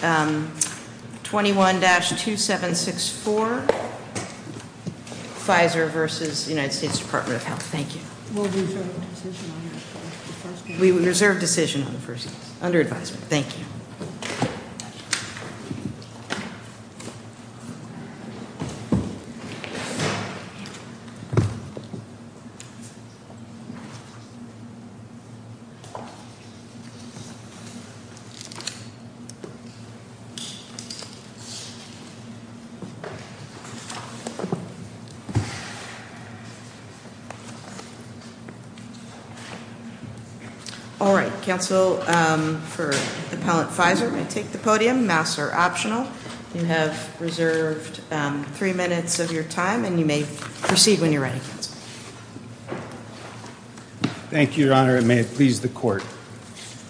21-2764, Pfizer v. United States Department of Health. Thank you. All right. Counsel for appellant Pfizer may take the podium. Masks are optional. You have reserved three minutes of your time, and you may proceed when you're ready. Thank you, Your Honor, and may it please the court.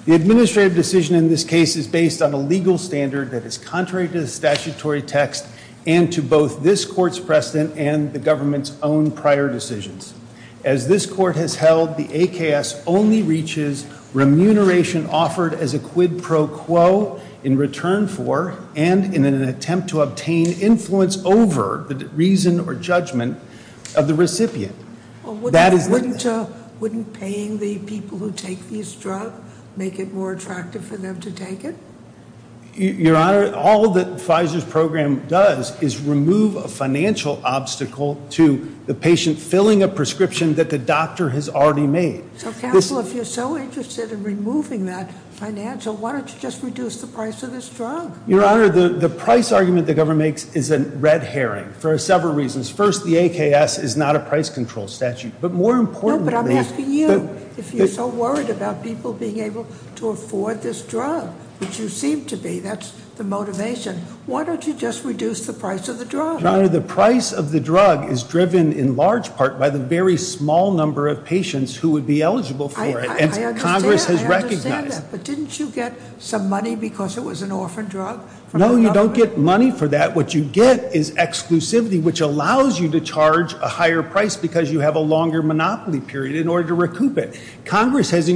The administrative decision in this case is a criminal standard that is contrary to the statutory text and to both this court's precedent and the government's own prior decisions. As this court has held, the AKS only reaches remuneration offered as a quid pro quo in return for and in an attempt to obtain influence over the reason or judgment of the recipient. Wouldn't paying the people who take this drug make it more attractive for them to take it? Your Honor, all that Pfizer's program does is remove a financial obstacle to the patient filling a prescription that the doctor has already made. Counsel, if you're so interested in removing that financial, why don't you just reduce the price of this drug? Your Honor, the price argument the government makes is a red herring for several reasons. First, the AKS is not a price control statute, but more importantly— As you seem to be, that's the motivation. Why don't you just reduce the price of the drug? Your Honor, the price of the drug is driven in large part by the very small number of patients who would be eligible for it, and Congress has recognized that. I understand that, but didn't you get some money because it was an orphan drug from the government? No, you don't get money for that. What you get is exclusivity, which allows you to charge a higher price because you have a longer monopoly period in order to recoup it. Congress has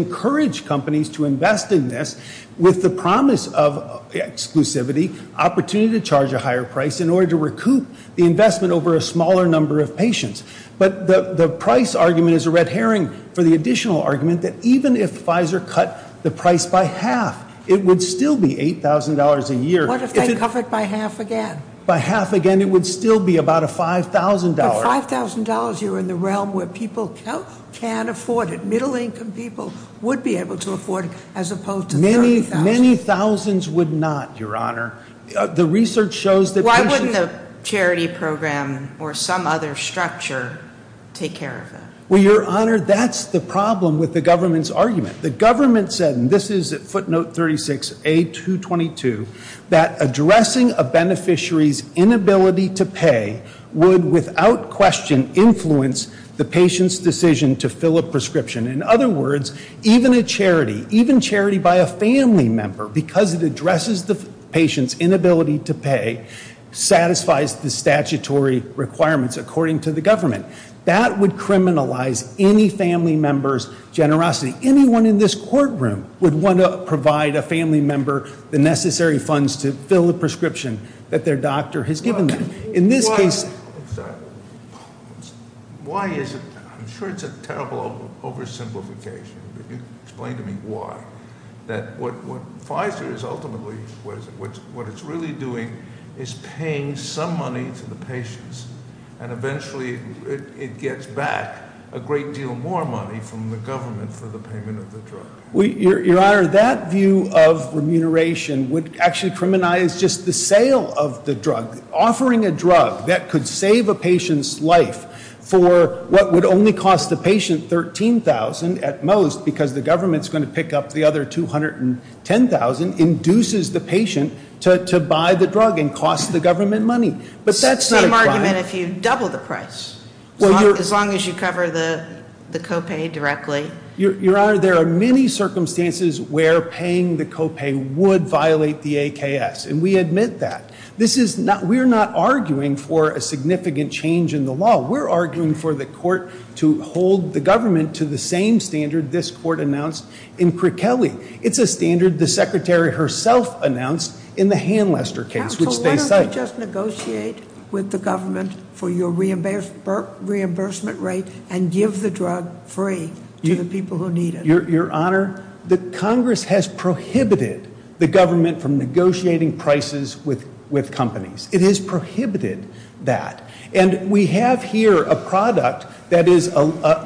of exclusivity, opportunity to charge a higher price in order to recoup the investment over a smaller number of patients. But the price argument is a red herring for the additional argument that even if Pfizer cut the price by half, it would still be $8,000 a year. What if they cut it by half again? By half again, it would still be about a $5,000. But $5,000, you're in the realm where people can afford it. Middle-income people would be able to afford it, as opposed to $30,000. Many thousands would not, Your Honor. The research shows that patients... Why wouldn't the charity program or some other structure take care of it? Well, Your Honor, that's the problem with the government's argument. The government said, and this is footnote 36A222, that addressing a beneficiary's inability to pay would without question influence the patient's decision to fill a prescription. In other words, even a charity, even charity by a family member, because it addresses the patient's inability to pay, satisfies the statutory requirements according to the government. That would criminalize any family member's generosity. Anyone in this courtroom would want to provide a family member the necessary funds to fill a prescription that their doctor has given them. Why is it, I'm sure it's a terrible oversimplification, but explain to me why, that what Pfizer is ultimately, what it's really doing is paying some money to the patients, and eventually it gets back a great deal more money from the government for the payment of the drug. Your Honor, that view of remuneration would actually criminalize just the sale of the drug. Buying a drug that could save a patient's life for what would only cost the patient $13,000 at most, because the government's going to pick up the other $210,000, induces the patient to buy the drug and cost the government money. But that's not a crime. It's the same argument if you double the price, as long as you cover the copay directly. Your Honor, there are many circumstances where paying the copay would violate the AKS, and we admit that. This is not, we're not arguing for a significant change in the law. We're arguing for the court to hold the government to the same standard this court announced in Crichelli. It's a standard the Secretary herself announced in the Hanlester case, which they cite. So why don't we just negotiate with the government for your reimbursement rate and give the drug free to the people who need it? Your Honor, the Congress has prohibited the government from negotiating prices with companies. It has prohibited that. And we have here a product that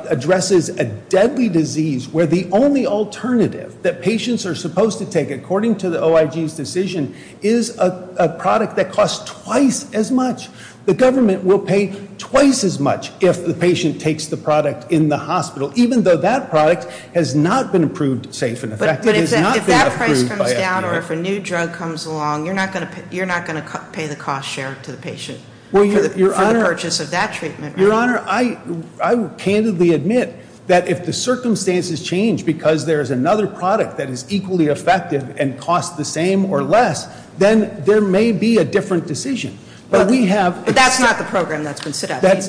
addresses a deadly disease where the only alternative that patients are supposed to take, according to the OIG's decision, is a product that costs twice as much. The government will pay twice as much if the patient takes the product in the hospital, even though that product has not been approved safe and effective. But if that price comes down or if a new drug comes along, you're not going to pay the cost shared to the patient for the purchase of that treatment, right? Your Honor, I candidly admit that if the circumstances change because there is another product that is equally effective and costs the same or less, then there may be a different decision. But we have- But that's not the program that's been set up. And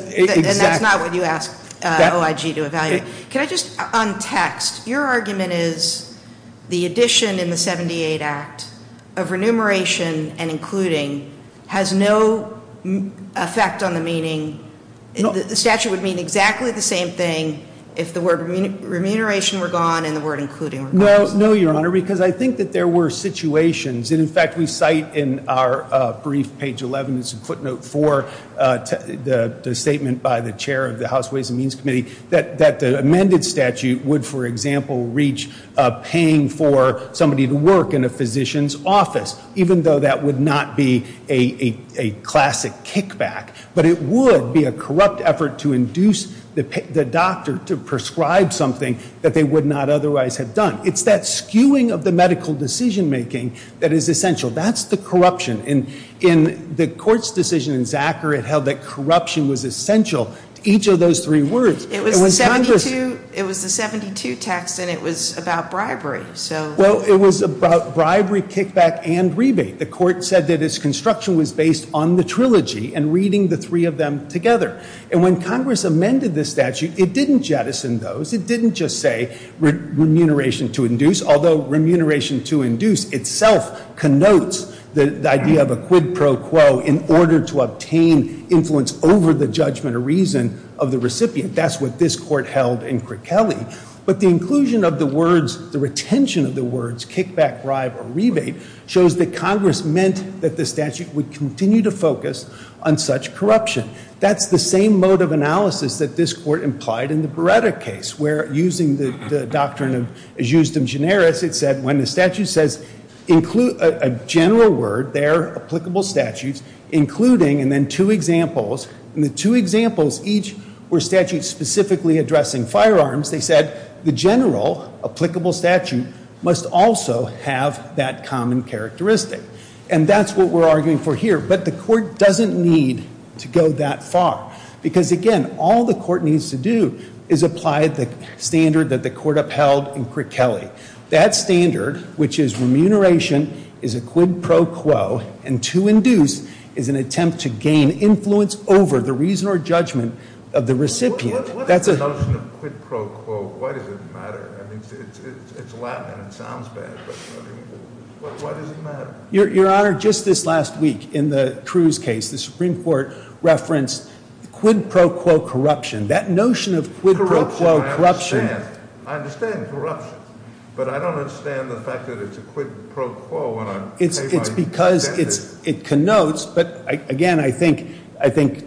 that's not what you asked OIG to evaluate. Can I just un-text? Your argument is the addition in the 78 Act of remuneration and including has no effect on the meaning. The statute would mean exactly the same thing if the word remuneration were gone and the word including were gone. No, Your Honor, because I think that there were situations, and in fact we cite in our statement by the chair of the House Ways and Means Committee, that the amended statute would, for example, reach paying for somebody to work in a physician's office, even though that would not be a classic kickback. But it would be a corrupt effort to induce the doctor to prescribe something that they would not otherwise have done. It's that skewing of the medical decision making that is essential. That's the corruption. In the Court's decision in Zacker, it held that corruption was essential to each of those three words. It was the 72 text and it was about bribery. Well, it was about bribery, kickback, and rebate. The Court said that its construction was based on the trilogy and reading the three of them together. And when Congress amended the statute, it didn't jettison those. It didn't just say remuneration to induce, although remuneration to induce itself connotes the idea of a quid pro quo in order to obtain influence over the judgment or reason of the recipient. That's what this Court held in Crichelli. But the inclusion of the words, the retention of the words kickback, bribe, or rebate shows that Congress meant that the statute would continue to focus on such corruption. That's the same mode of analysis that this Court implied in the Beretta case, where using the doctrine of justum generis, it said when the statute says a general word, there are applicable statutes, including, and then two examples, and the two examples each were statutes specifically addressing firearms, they said the general applicable statute must also have that common characteristic. And that's what we're arguing for here. But the Court doesn't need to go that far because, again, all the Court needs to do is apply the standard that the Court upheld in Crichelli. That standard, which is remuneration, is a quid pro quo, and to induce is an attempt to gain influence over the reason or judgment of the recipient. That's a- What is the notion of quid pro quo? Why does it matter? I mean, it's Latin and it sounds bad, but I mean, why does it matter? Your Honor, just this last week in the Cruz case, the Supreme Court referenced quid pro quo corruption. That notion of quid pro quo corruption- Corruption, I understand. I understand corruption, but I don't understand the fact that it's a quid pro quo when I- It's because it connotes, but again, I think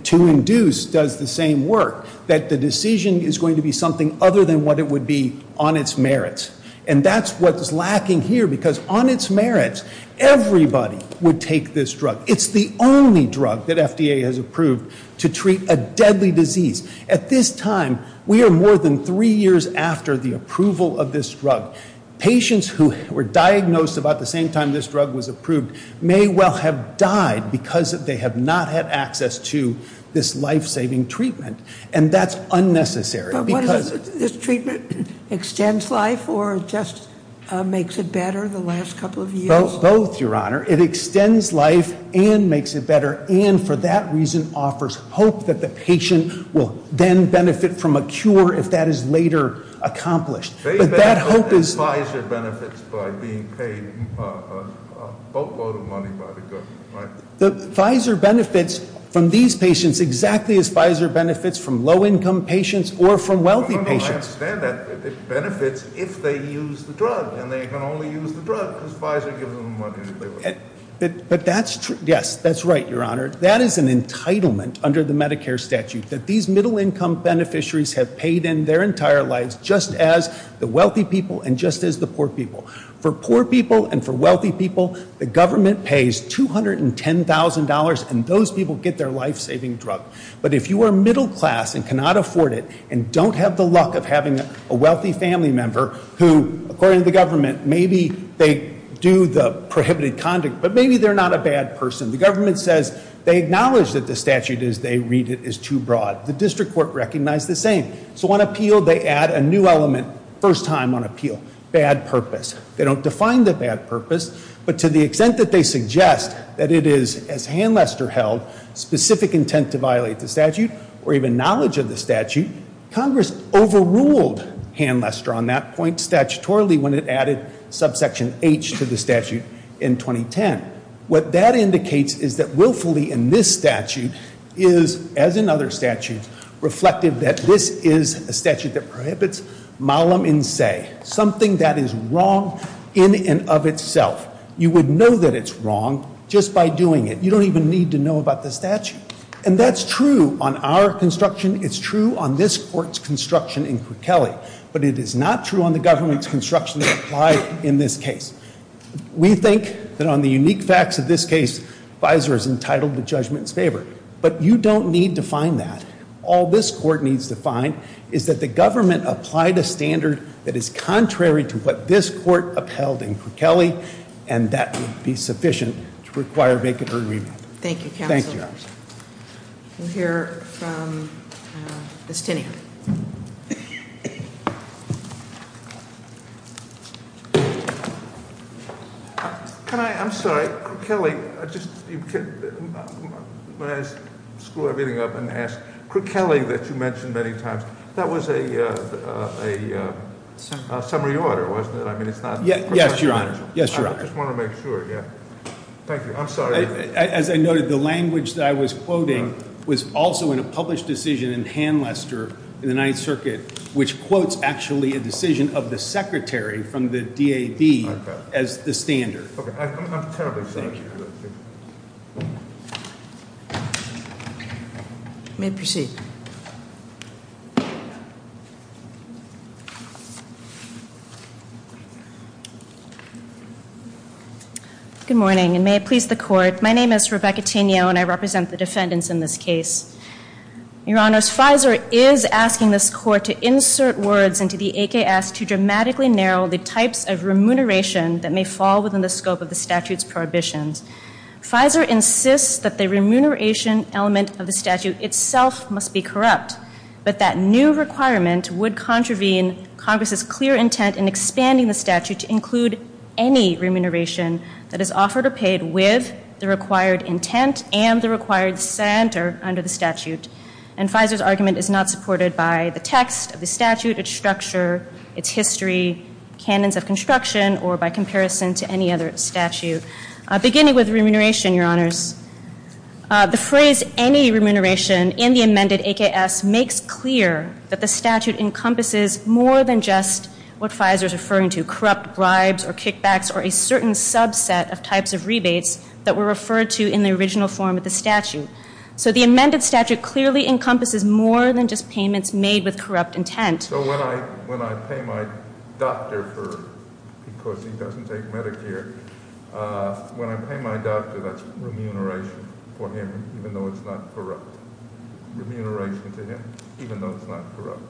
to induce does the same work, that the decision is going to be something other than what it would be on its merits. And that's what's lacking here because on its merits, everybody would take this drug. It's the only drug that FDA has approved to treat a deadly disease. At this time, we are more than three years after the approval of this drug. Patients who were diagnosed about the same time this drug was approved may well have died because they have not had access to this life-saving treatment. And that's unnecessary because- But what is it? This treatment extends life or just makes it better the last couple of years? Both, Your Honor. It extends life and makes it better, and for that reason, offers hope that the patient will then benefit from a cure if that is later accomplished. But that hope is- Pfizer benefits by being paid a boatload of money by the government, right? Pfizer benefits from these patients exactly as Pfizer benefits from low-income patients or from wealthy patients. I understand that. It benefits if they use the drug, and they can only use the drug because Pfizer gives them the money to do it. But that's true. Yes, that's right, Your Honor. That is an entitlement under the Medicare statute that these middle-income beneficiaries have paid in their entire lives just as the wealthy people and just as the poor people. For poor people and for wealthy people, the government pays $210,000, and those people get their life-saving drug. But if you are middle class and cannot afford it and don't have the luck of having a wealthy family member who, according to the government, maybe they do the prohibited conduct, but maybe they're not a bad person. The government says they acknowledge that the statute as they read it is too broad. The district court recognized the same. So on appeal, they add a new element, first time on appeal, bad purpose. They don't define the bad purpose, but to the extent that they suggest that it is, as Hanlester held, specific intent to violate the statute or even knowledge of the statute, Congress overruled Hanlester on that point statutorily when it added subsection H to the statute in 2010. What that indicates is that willfully in this statute is, as in other statutes, reflective that this is a statute that prohibits malum in se, something that is wrong in and of itself. You would know that it's wrong just by doing it. You don't even need to know about the statute. And that's true on our construction. It's true on this court's construction in Cookelly. But it is not true on the government's construction applied in this case. We think that on the unique facts of this case, visor is entitled to judgment's favor. But you don't need to find that. All this court needs to find is that the government applied a standard that is contrary to what this court upheld in Cookelly. And that would be sufficient to require vacant agreement. Thank you, counsel. Thank you. We'll hear from Ms. Tinney. Can I, I'm sorry, Cookelly, I just, when I screw everything up and ask, Cookelly that you mentioned many times, that was a summary order, wasn't it? I mean, it's not- Yes, your honor. Yes, your honor. I just want to make sure, yeah. Thank you, I'm sorry. As I noted, the language that I was quoting was also in a published decision in Han Lester in the Ninth Circuit, which quotes actually a decision of the secretary from the DAD as the standard. Okay, I'm terribly sorry. Thank you. You may proceed. Good morning, and may it please the court. My name is Rebecca Tenio, and I represent the defendants in this case. Your honors, FISER is asking this court to insert words into the AKS to dramatically narrow the types of remuneration that may fall within the scope of the statute's prohibitions. FISER insists that the remuneration element of the statute itself must be corrupt, but that new requirement would contravene Congress's clear intent in expanding the statute to include any remuneration that is offered or And FISER's argument is not supported by the text of the statute, its structure, its history, canons of construction, or by comparison to any other statute. Beginning with remuneration, your honors, the phrase any remuneration in the amended AKS makes clear that the statute encompasses more than just what FISER is referring to, corrupt bribes or kickbacks or a certain subset of types of rebates that were referred to in the original form of the statute. So the amended statute clearly encompasses more than just payments made with corrupt intent. So when I pay my doctor for, because he doesn't take Medicare, when I pay my doctor, that's remuneration for him, even though it's not corrupt. Remuneration to him, even though it's not corrupt.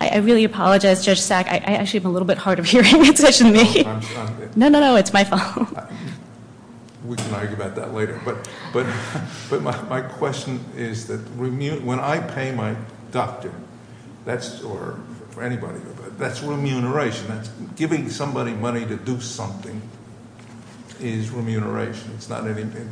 I really apologize, Judge Sack. I actually am a little bit hard of hearing. It's actually me. No, no, no, it's my fault. We can argue about that later. But my question is that when I pay my doctor, that's, or for anybody, that's remuneration. That's giving somebody money to do something is remuneration. It's not anything,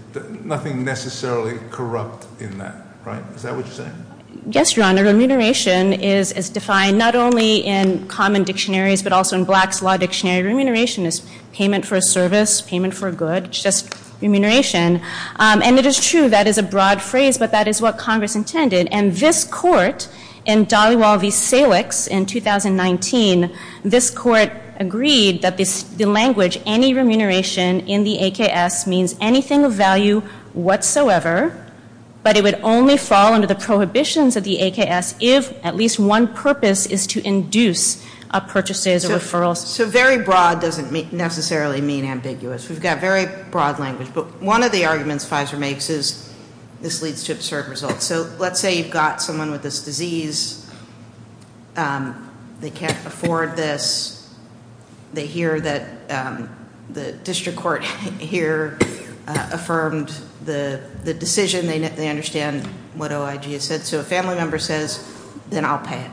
nothing necessarily corrupt in that, right? Is that what you're saying? Yes, your honor. Remuneration is defined not only in common dictionaries, but also in black's law dictionary. Remuneration is payment for a service, payment for a good, just remuneration. And it is true that is a broad phrase, but that is what Congress intended. And this court in Daliwal v. Salix in 2019, this court agreed that the language, any remuneration in the AKS means anything of value whatsoever. But it would only fall under the prohibitions of the AKS if at least one purpose is to induce purchases or referrals. So very broad doesn't necessarily mean ambiguous. We've got very broad language. But one of the arguments Pfizer makes is this leads to absurd results. So let's say you've got someone with this disease, they can't afford this. They hear that the district court here affirmed the decision. They understand what OIG has said. So a family member says, then I'll pay it.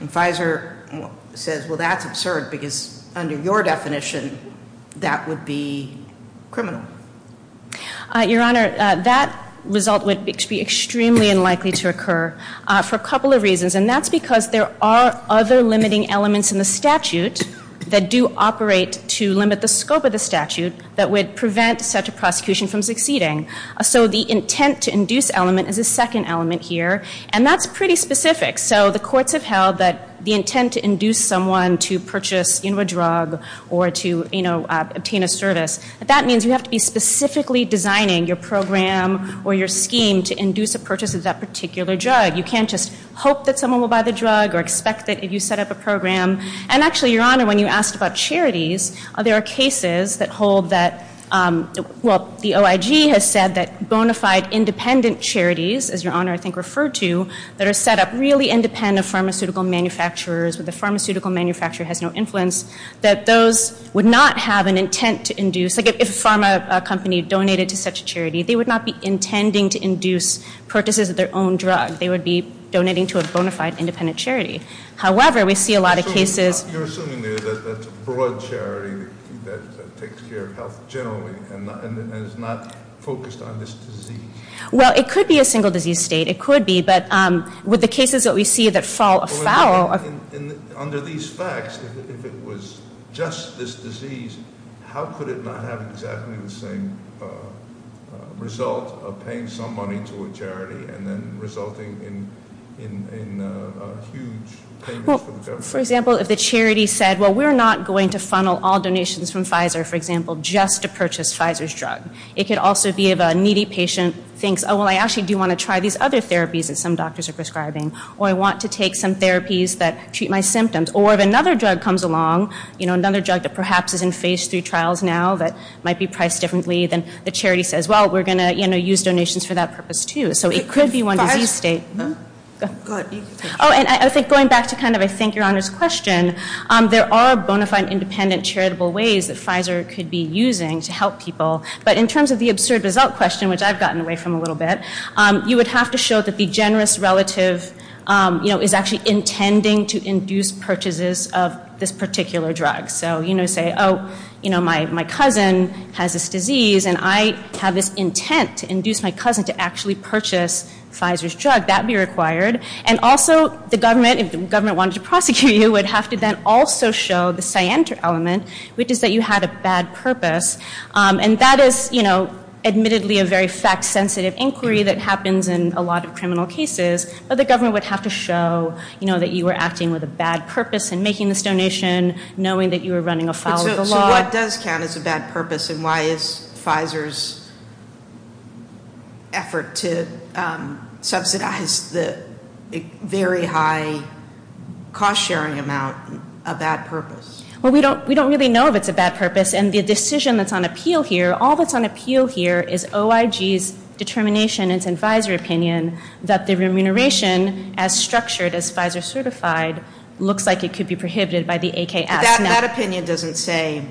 And Pfizer says, well, that's absurd, because under your definition, that would be criminal. Your Honor, that result would be extremely unlikely to occur for a couple of reasons. And that's because there are other limiting elements in the statute that do operate to limit the scope of the statute that would prevent such a prosecution from succeeding, so the intent to induce element is a second element here. And that's pretty specific. So the courts have held that the intent to induce someone to purchase a drug or to obtain a service, that means you have to be specifically designing your program or your scheme to induce a purchase of that particular drug. You can't just hope that someone will buy the drug or expect that you set up a program. And actually, Your Honor, when you asked about charities, there are cases that hold that, well, the OIG has said that bona fide independent charities, as Your Honor I think referred to, that are set up really independent pharmaceutical manufacturers, where the pharmaceutical manufacturer has no influence, that those would not have an intent to induce, like if a pharma company donated to such a charity, they would not be intending to induce purchases of their own drug. They would be donating to a bona fide independent charity. However, we see a lot of cases- You're assuming there's a broad charity that takes care of health generally and is not focused on this disease. Well, it could be a single disease state. It could be, but with the cases that we see that fall afoul of- Under these facts, if it was just this disease, how could it not have exactly the same result of paying some money to a charity and then resulting in huge payments for the government? For example, if the charity said, well, we're not going to funnel all donations from Pfizer, for example, just to purchase Pfizer's drug. It could also be if a needy patient thinks, oh, well, I actually do want to try these other therapies that some doctors are prescribing. Or I want to take some therapies that treat my symptoms. Or if another drug comes along, another drug that perhaps is in phase three trials now, that might be priced differently than the charity says, well, we're going to use donations for that purpose, too. So it could be one disease state. Go ahead. And I think going back to kind of, I think, Your Honor's question, there are bona fide independent charitable ways that Pfizer could be using to help people. But in terms of the absurd result question, which I've gotten away from a little bit, you would have to show that the generous relative is actually intending to induce purchases of this particular drug. So say, oh, my cousin has this disease and I have this intent to induce my cousin to actually purchase Pfizer's drug. That would be required. And also, the government, if the government wanted to prosecute you, would have to then also show the scienter element, which is that you had a bad purpose. And that is, admittedly, a very fact-sensitive inquiry that happens in a lot of criminal cases. But the government would have to show that you were acting with a bad purpose in making this donation, knowing that you were running afoul of the law. So what does count as a bad purpose, and why is Pfizer's effort to subsidize the very high cost sharing amount a bad purpose? Well, we don't really know if it's a bad purpose, and the decision that's on appeal here, all that's on appeal here is OIG's determination, and it's in Pfizer opinion, that the remuneration, as structured as Pfizer certified, looks like it could be prohibited by the AKS. That opinion doesn't say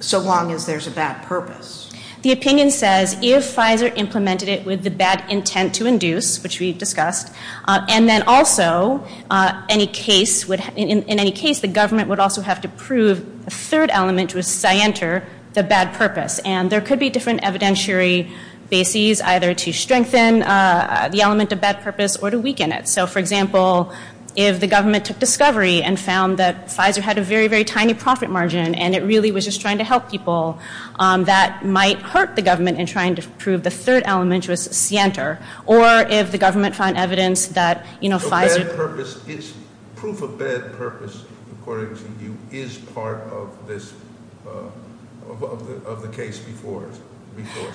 so long as there's a bad purpose. The opinion says, if Pfizer implemented it with the bad intent to induce, which we've discussed, and then also, in any case, the government would also have to prove a third element, which was scienter, the bad purpose. And there could be different evidentiary bases, either to strengthen the element of bad purpose or to weaken it. So, for example, if the government took discovery and found that Pfizer had a very, very tiny profit margin, and it really was just trying to help people, that might hurt the government in trying to prove the third element, which was scienter. Or if the government found evidence that Pfizer- So bad purpose is, proof of bad purpose, according to you, is part of this, of the case before,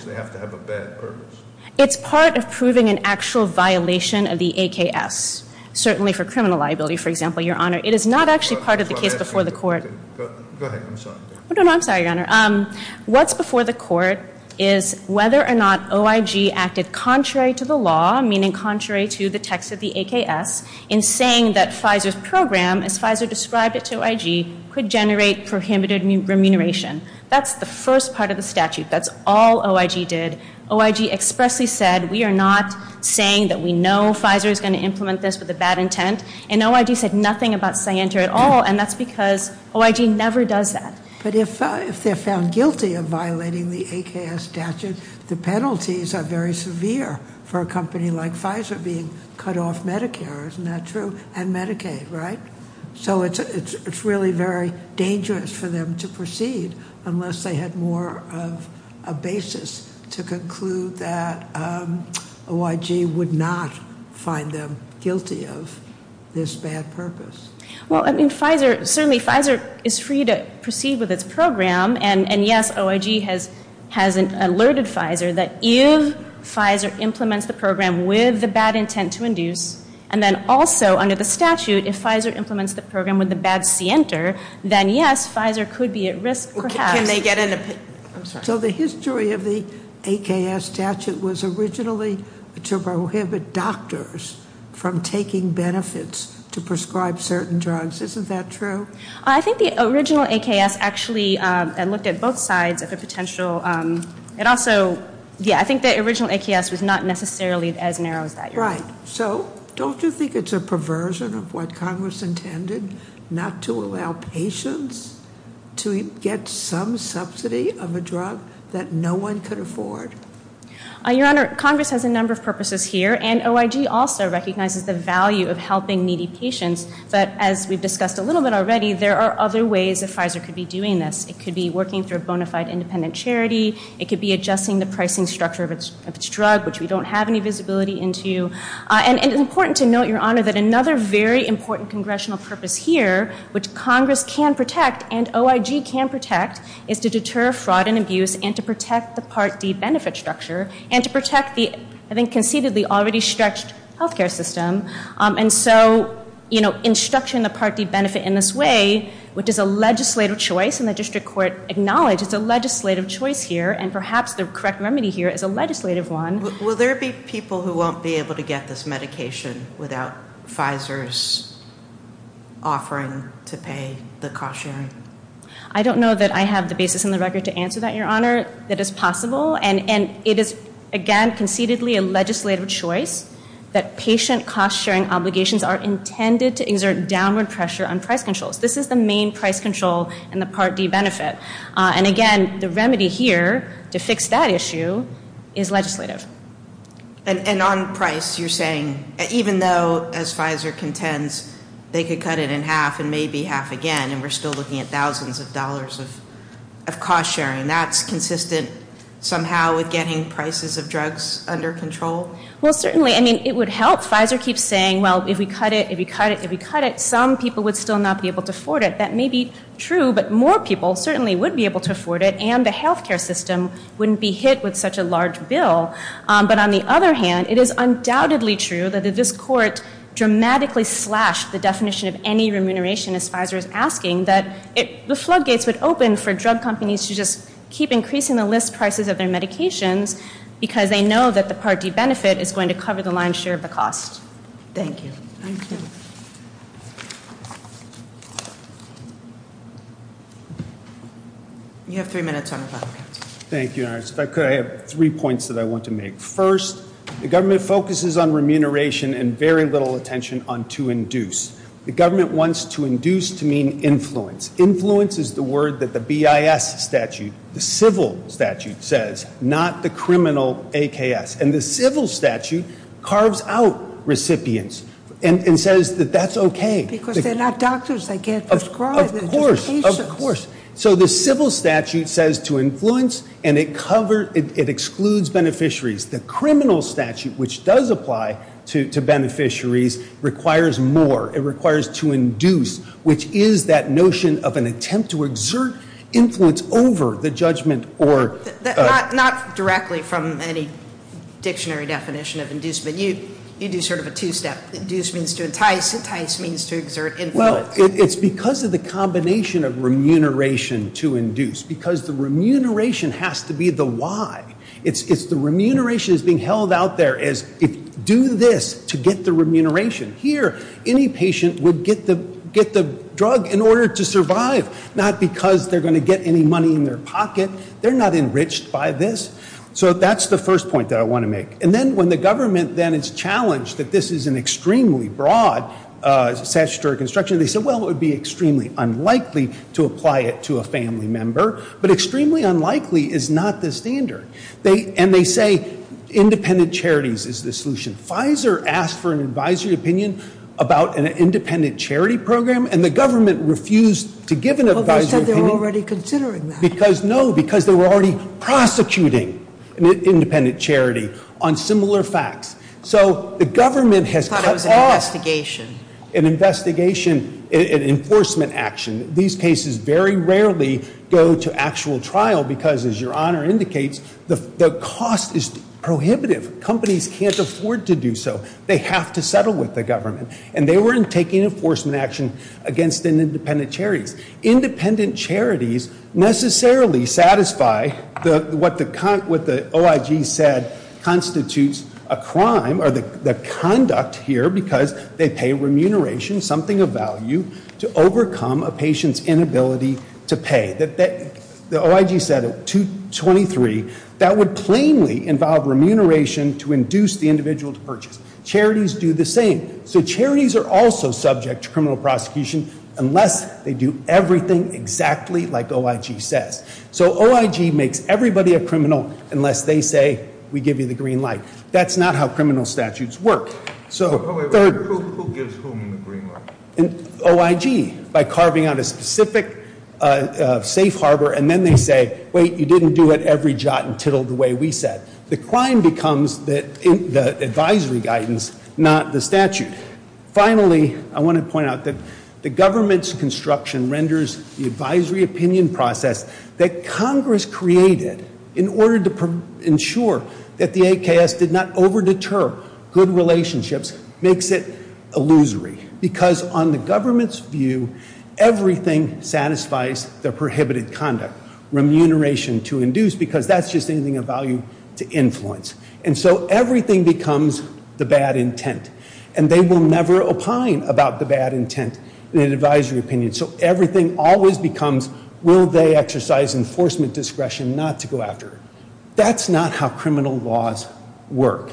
they have to have a bad purpose. It's part of proving an actual violation of the AKS. Certainly for criminal liability, for example, your honor. It is not actually part of the case before the court. Go ahead, I'm sorry. No, no, I'm sorry, your honor. What's before the court is whether or not OIG acted contrary to the law, meaning contrary to the text of the AKS, in saying that Pfizer's program, as Pfizer described it to OIG, could generate prohibited remuneration. That's the first part of the statute. That's all OIG did. OIG expressly said, we are not saying that we know Pfizer is going to implement this with a bad intent. And OIG said nothing about scienter at all, and that's because OIG never does that. But if they're found guilty of violating the AKS statute, the penalties are very severe for a company like Pfizer being cut off Medicare, isn't that true, and Medicaid, right? So it's really very dangerous for them to proceed unless they had more of a basis to conclude that OIG would not find them guilty of this bad purpose. Well, I mean, Pfizer, certainly Pfizer is free to proceed with its program, and yes, OIG has alerted Pfizer that if Pfizer implements the program with the bad intent to induce. And then also, under the statute, if Pfizer implements the program with a bad scienter, then yes, Pfizer could be at risk, perhaps. Can they get in a, I'm sorry. So the history of the AKS statute was originally to prohibit doctors from taking benefits to prescribe certain drugs, isn't that true? I think the original AKS actually, I looked at both sides of the potential. It also, yeah, I think the original AKS was not necessarily as narrow as that. Right, so don't you think it's a perversion of what Congress intended, not to allow patients to get some subsidy of a drug that no one could afford? Your Honor, Congress has a number of purposes here, and OIG also recognizes the value of helping needy patients. But as we've discussed a little bit already, there are other ways that Pfizer could be doing this. It could be working through a bona fide independent charity. It could be adjusting the pricing structure of its drug, which we don't have any visibility into. And it's important to note, Your Honor, that another very important congressional purpose here, which Congress can protect and OIG can protect, is to deter fraud and abuse and to protect the Part D benefit structure. And to protect the, I think conceitedly, already stretched healthcare system. And so, in structuring the Part D benefit in this way, which is a legislative choice, and the district court acknowledged it's a legislative choice here, and perhaps the correct remedy here is a legislative one. Will there be people who won't be able to get this medication without Pfizer's offering to pay the cost sharing? I don't know that I have the basis in the record to answer that, Your Honor. That is possible, and it is, again, conceitedly a legislative choice. That patient cost sharing obligations are intended to exert downward pressure on price controls. This is the main price control in the Part D benefit. And again, the remedy here to fix that issue is legislative. And on price, you're saying, even though, as Pfizer contends, they could cut it in half and maybe half again, and we're still looking at thousands of dollars of cost sharing. That's consistent somehow with getting prices of drugs under control? Well, certainly, I mean, it would help. Pfizer keeps saying, well, if we cut it, if we cut it, if we cut it, some people would still not be able to afford it. That may be true, but more people certainly would be able to afford it, and the healthcare system wouldn't be hit with such a large bill. But on the other hand, it is undoubtedly true that if this court dramatically slashed the definition of any remuneration, as Pfizer is asking, that the floodgates would open for drug companies to just keep increasing the list prices of their medications. Because they know that the Part D benefit is going to cover the lion's share of the cost. Thank you. Thank you. You have three minutes on the floodgates. Thank you, Your Honor. If I could, I have three points that I want to make. First, the government focuses on remuneration and very little attention on to induce. The government wants to induce to mean influence. Influence is the word that the BIS statute, the civil statute says, not the criminal AKS. And the civil statute carves out recipients and says that that's okay. Because they're not doctors, they can't prescribe. Of course, of course. So the civil statute says to influence, and it excludes beneficiaries. The criminal statute, which does apply to beneficiaries, requires more. It requires to induce, which is that notion of an attempt to exert influence over the judgment or- Not directly from any dictionary definition of inducement. You do sort of a two step. Induce means to entice, entice means to exert influence. Well, it's because of the combination of remuneration to induce. Because the remuneration has to be the why. It's the remuneration that's being held out there as, do this to get the remuneration. Here, any patient would get the drug in order to survive. Not because they're going to get any money in their pocket. They're not enriched by this. So that's the first point that I want to make. And then when the government then is challenged that this is an extremely broad statutory construction. They said, well, it would be extremely unlikely to apply it to a family member. But extremely unlikely is not the standard. And they say independent charities is the solution. Pfizer asked for an advisory opinion about an independent charity program, and the government refused to give an advisory opinion. Well, they said they were already considering that. No, because they were already prosecuting an independent charity on similar facts. So the government has cut off- I thought it was an investigation. An investigation, an enforcement action. These cases very rarely go to actual trial because, as your Honor indicates, the cost is prohibitive. Companies can't afford to do so. They have to settle with the government. And they were taking enforcement action against an independent charities. Independent charities necessarily satisfy what the OIG said constitutes a crime, or the conduct here, because they pay remuneration, something of value, to overcome a patient's inability to pay. The OIG said at 223, that would plainly involve remuneration to induce the individual to purchase. Charities do the same. So charities are also subject to criminal prosecution unless they do everything exactly like OIG says. So OIG makes everybody a criminal unless they say, we give you the green light. That's not how criminal statutes work. So- Wait, who gives whom the green light? OIG, by carving out a specific safe harbor. And then they say, wait, you didn't do it every jot and tittle the way we said. The crime becomes the advisory guidance, not the statute. Finally, I want to point out that the government's construction renders the advisory opinion process that Congress created in order to ensure that the AKS did not over deter good relationships, makes it illusory. Because on the government's view, everything satisfies the prohibited conduct. Remuneration to induce, because that's just anything of value to influence. And so everything becomes the bad intent. And they will never opine about the bad intent in an advisory opinion. So everything always becomes, will they exercise enforcement discretion not to go after it? That's not how criminal laws work.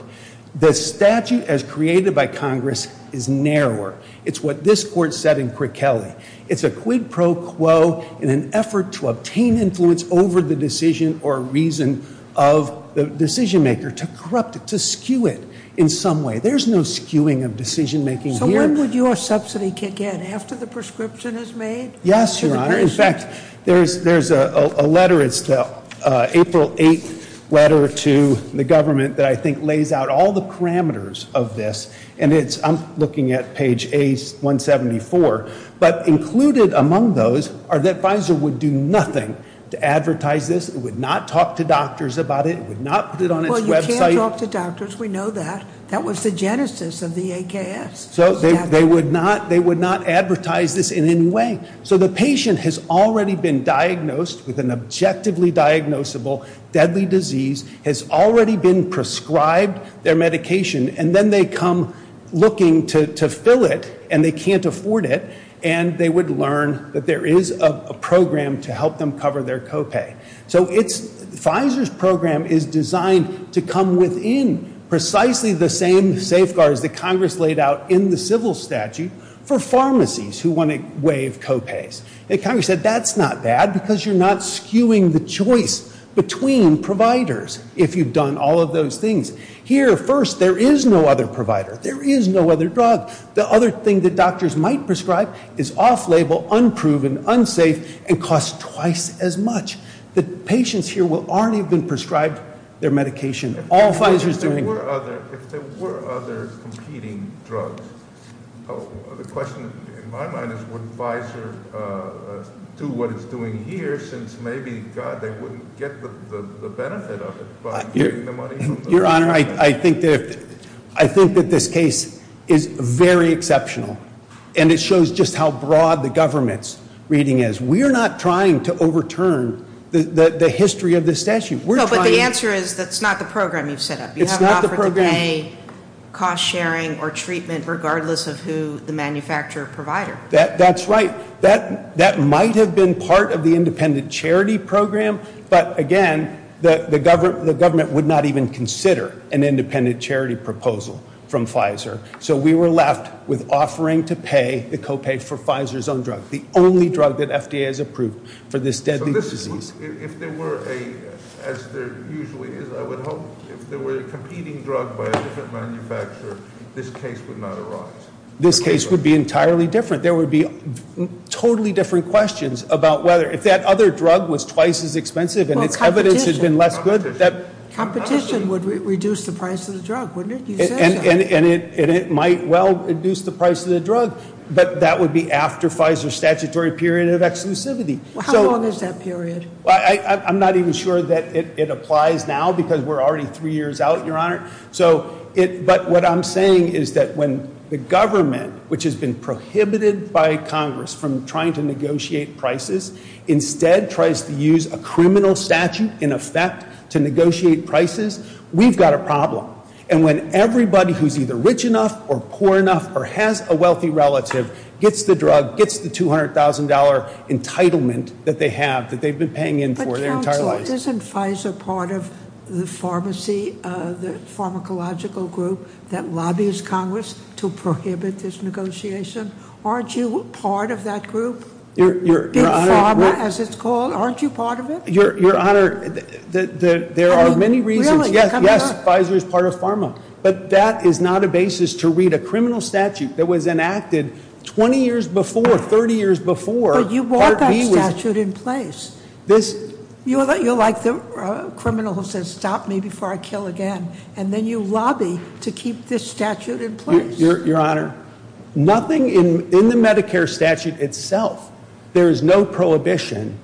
The statute as created by Congress is narrower. It's what this court said in Quick Kelly. It's a quid pro quo in an effort to obtain influence over the decision or reason of the decision maker, to corrupt it, to skew it in some way. There's no skewing of decision making here. So when would your subsidy kick in, after the prescription is made? Yes, your honor. In fact, there's a letter, it's the April 8th letter to the government that I think lays out all the parameters of this. And it's, I'm looking at page A174, but included among those are that Pfizer would do nothing to advertise this. It would not talk to doctors about it, it would not put it on its website. Well, you can talk to doctors, we know that. That was the genesis of the AKS. So they would not advertise this in any way. So the patient has already been diagnosed with an objectively diagnosable deadly disease, has already been prescribed their medication, and then they come looking to fill it and they can't afford it. And they would learn that there is a program to help them cover their co-pay. So Pfizer's program is designed to come within precisely the same safeguards that Congress laid out in the civil statute for pharmacies who want to waive co-pays. And Congress said, that's not bad because you're not skewing the choice between providers if you've done all of those things. Here, first, there is no other provider, there is no other drug. The other thing that doctors might prescribe is off-label, unproven, unsafe, and cost twice as much. The patients here will already have been prescribed their medication, all Pfizer's doing- If there were other competing drugs, the question in my mind is, would Pfizer do what it's doing here, since maybe, God, they wouldn't get the benefit of it by getting the money from the- Your Honor, I think that this case is very exceptional. And it shows just how broad the government's reading is. We are not trying to overturn the history of this statute. We're trying- No, but the answer is, that's not the program you've set up. It's not the program- You haven't offered to pay cost sharing or treatment, regardless of who the manufacturer or provider. That's right. That might have been part of the independent charity program, but again, the government would not even consider an independent charity proposal from Pfizer. So we were left with offering to pay the co-pay for Pfizer's own drug, the only drug that FDA has approved for this deadly disease. If there were a, as there usually is, I would hope, if there were a competing drug by a different manufacturer, this case would not arise. This case would be entirely different. There would be totally different questions about whether, if that other drug was twice as expensive and its evidence had been less good, that- Competition would reduce the price of the drug, wouldn't it? You said that. And it might well reduce the price of the drug, but that would be after Pfizer's statutory period of exclusivity. So- How long is that period? I'm not even sure that it applies now, because we're already three years out, your honor. So, but what I'm saying is that when the government, which has been prohibited by Congress from trying to negotiate prices, instead tries to use a criminal statute in effect to negotiate prices, we've got a problem. And when everybody who's either rich enough or poor enough or has a wealthy relative gets the drug, gets the $200,000 entitlement that they have, that they've been paying in for their entire lives. But counsel, isn't Pfizer part of the pharmacy, the pharmacological group that lobbies Congress to prohibit this negotiation? Aren't you part of that group? You're- Big Pharma, as it's called, aren't you part of it? Your honor, there are many reasons. Yes, Pfizer is part of Pharma. But that is not a basis to read a criminal statute that was enacted 20 years before, 30 years before. But you brought that statute in place. You're like the criminal who says stop me before I kill again, and then you lobby to keep this statute in place. Your honor, nothing in the Medicare statute itself, there is no prohibition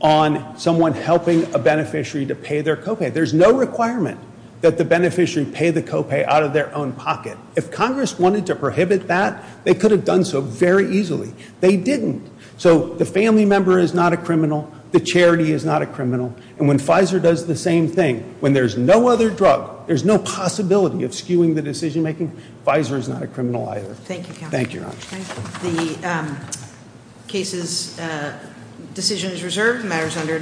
on someone helping a beneficiary to pay their copay. There's no requirement that the beneficiary pay the copay out of their own pocket. If Congress wanted to prohibit that, they could have done so very easily. They didn't. So the family member is not a criminal. The charity is not a criminal. And when Pfizer does the same thing, when there's no other drug, there's no possibility of skewing the decision making, Pfizer is not a criminal either. Thank you, counsel. Thank you, your honor. The case's decision is reserved. The matter is under-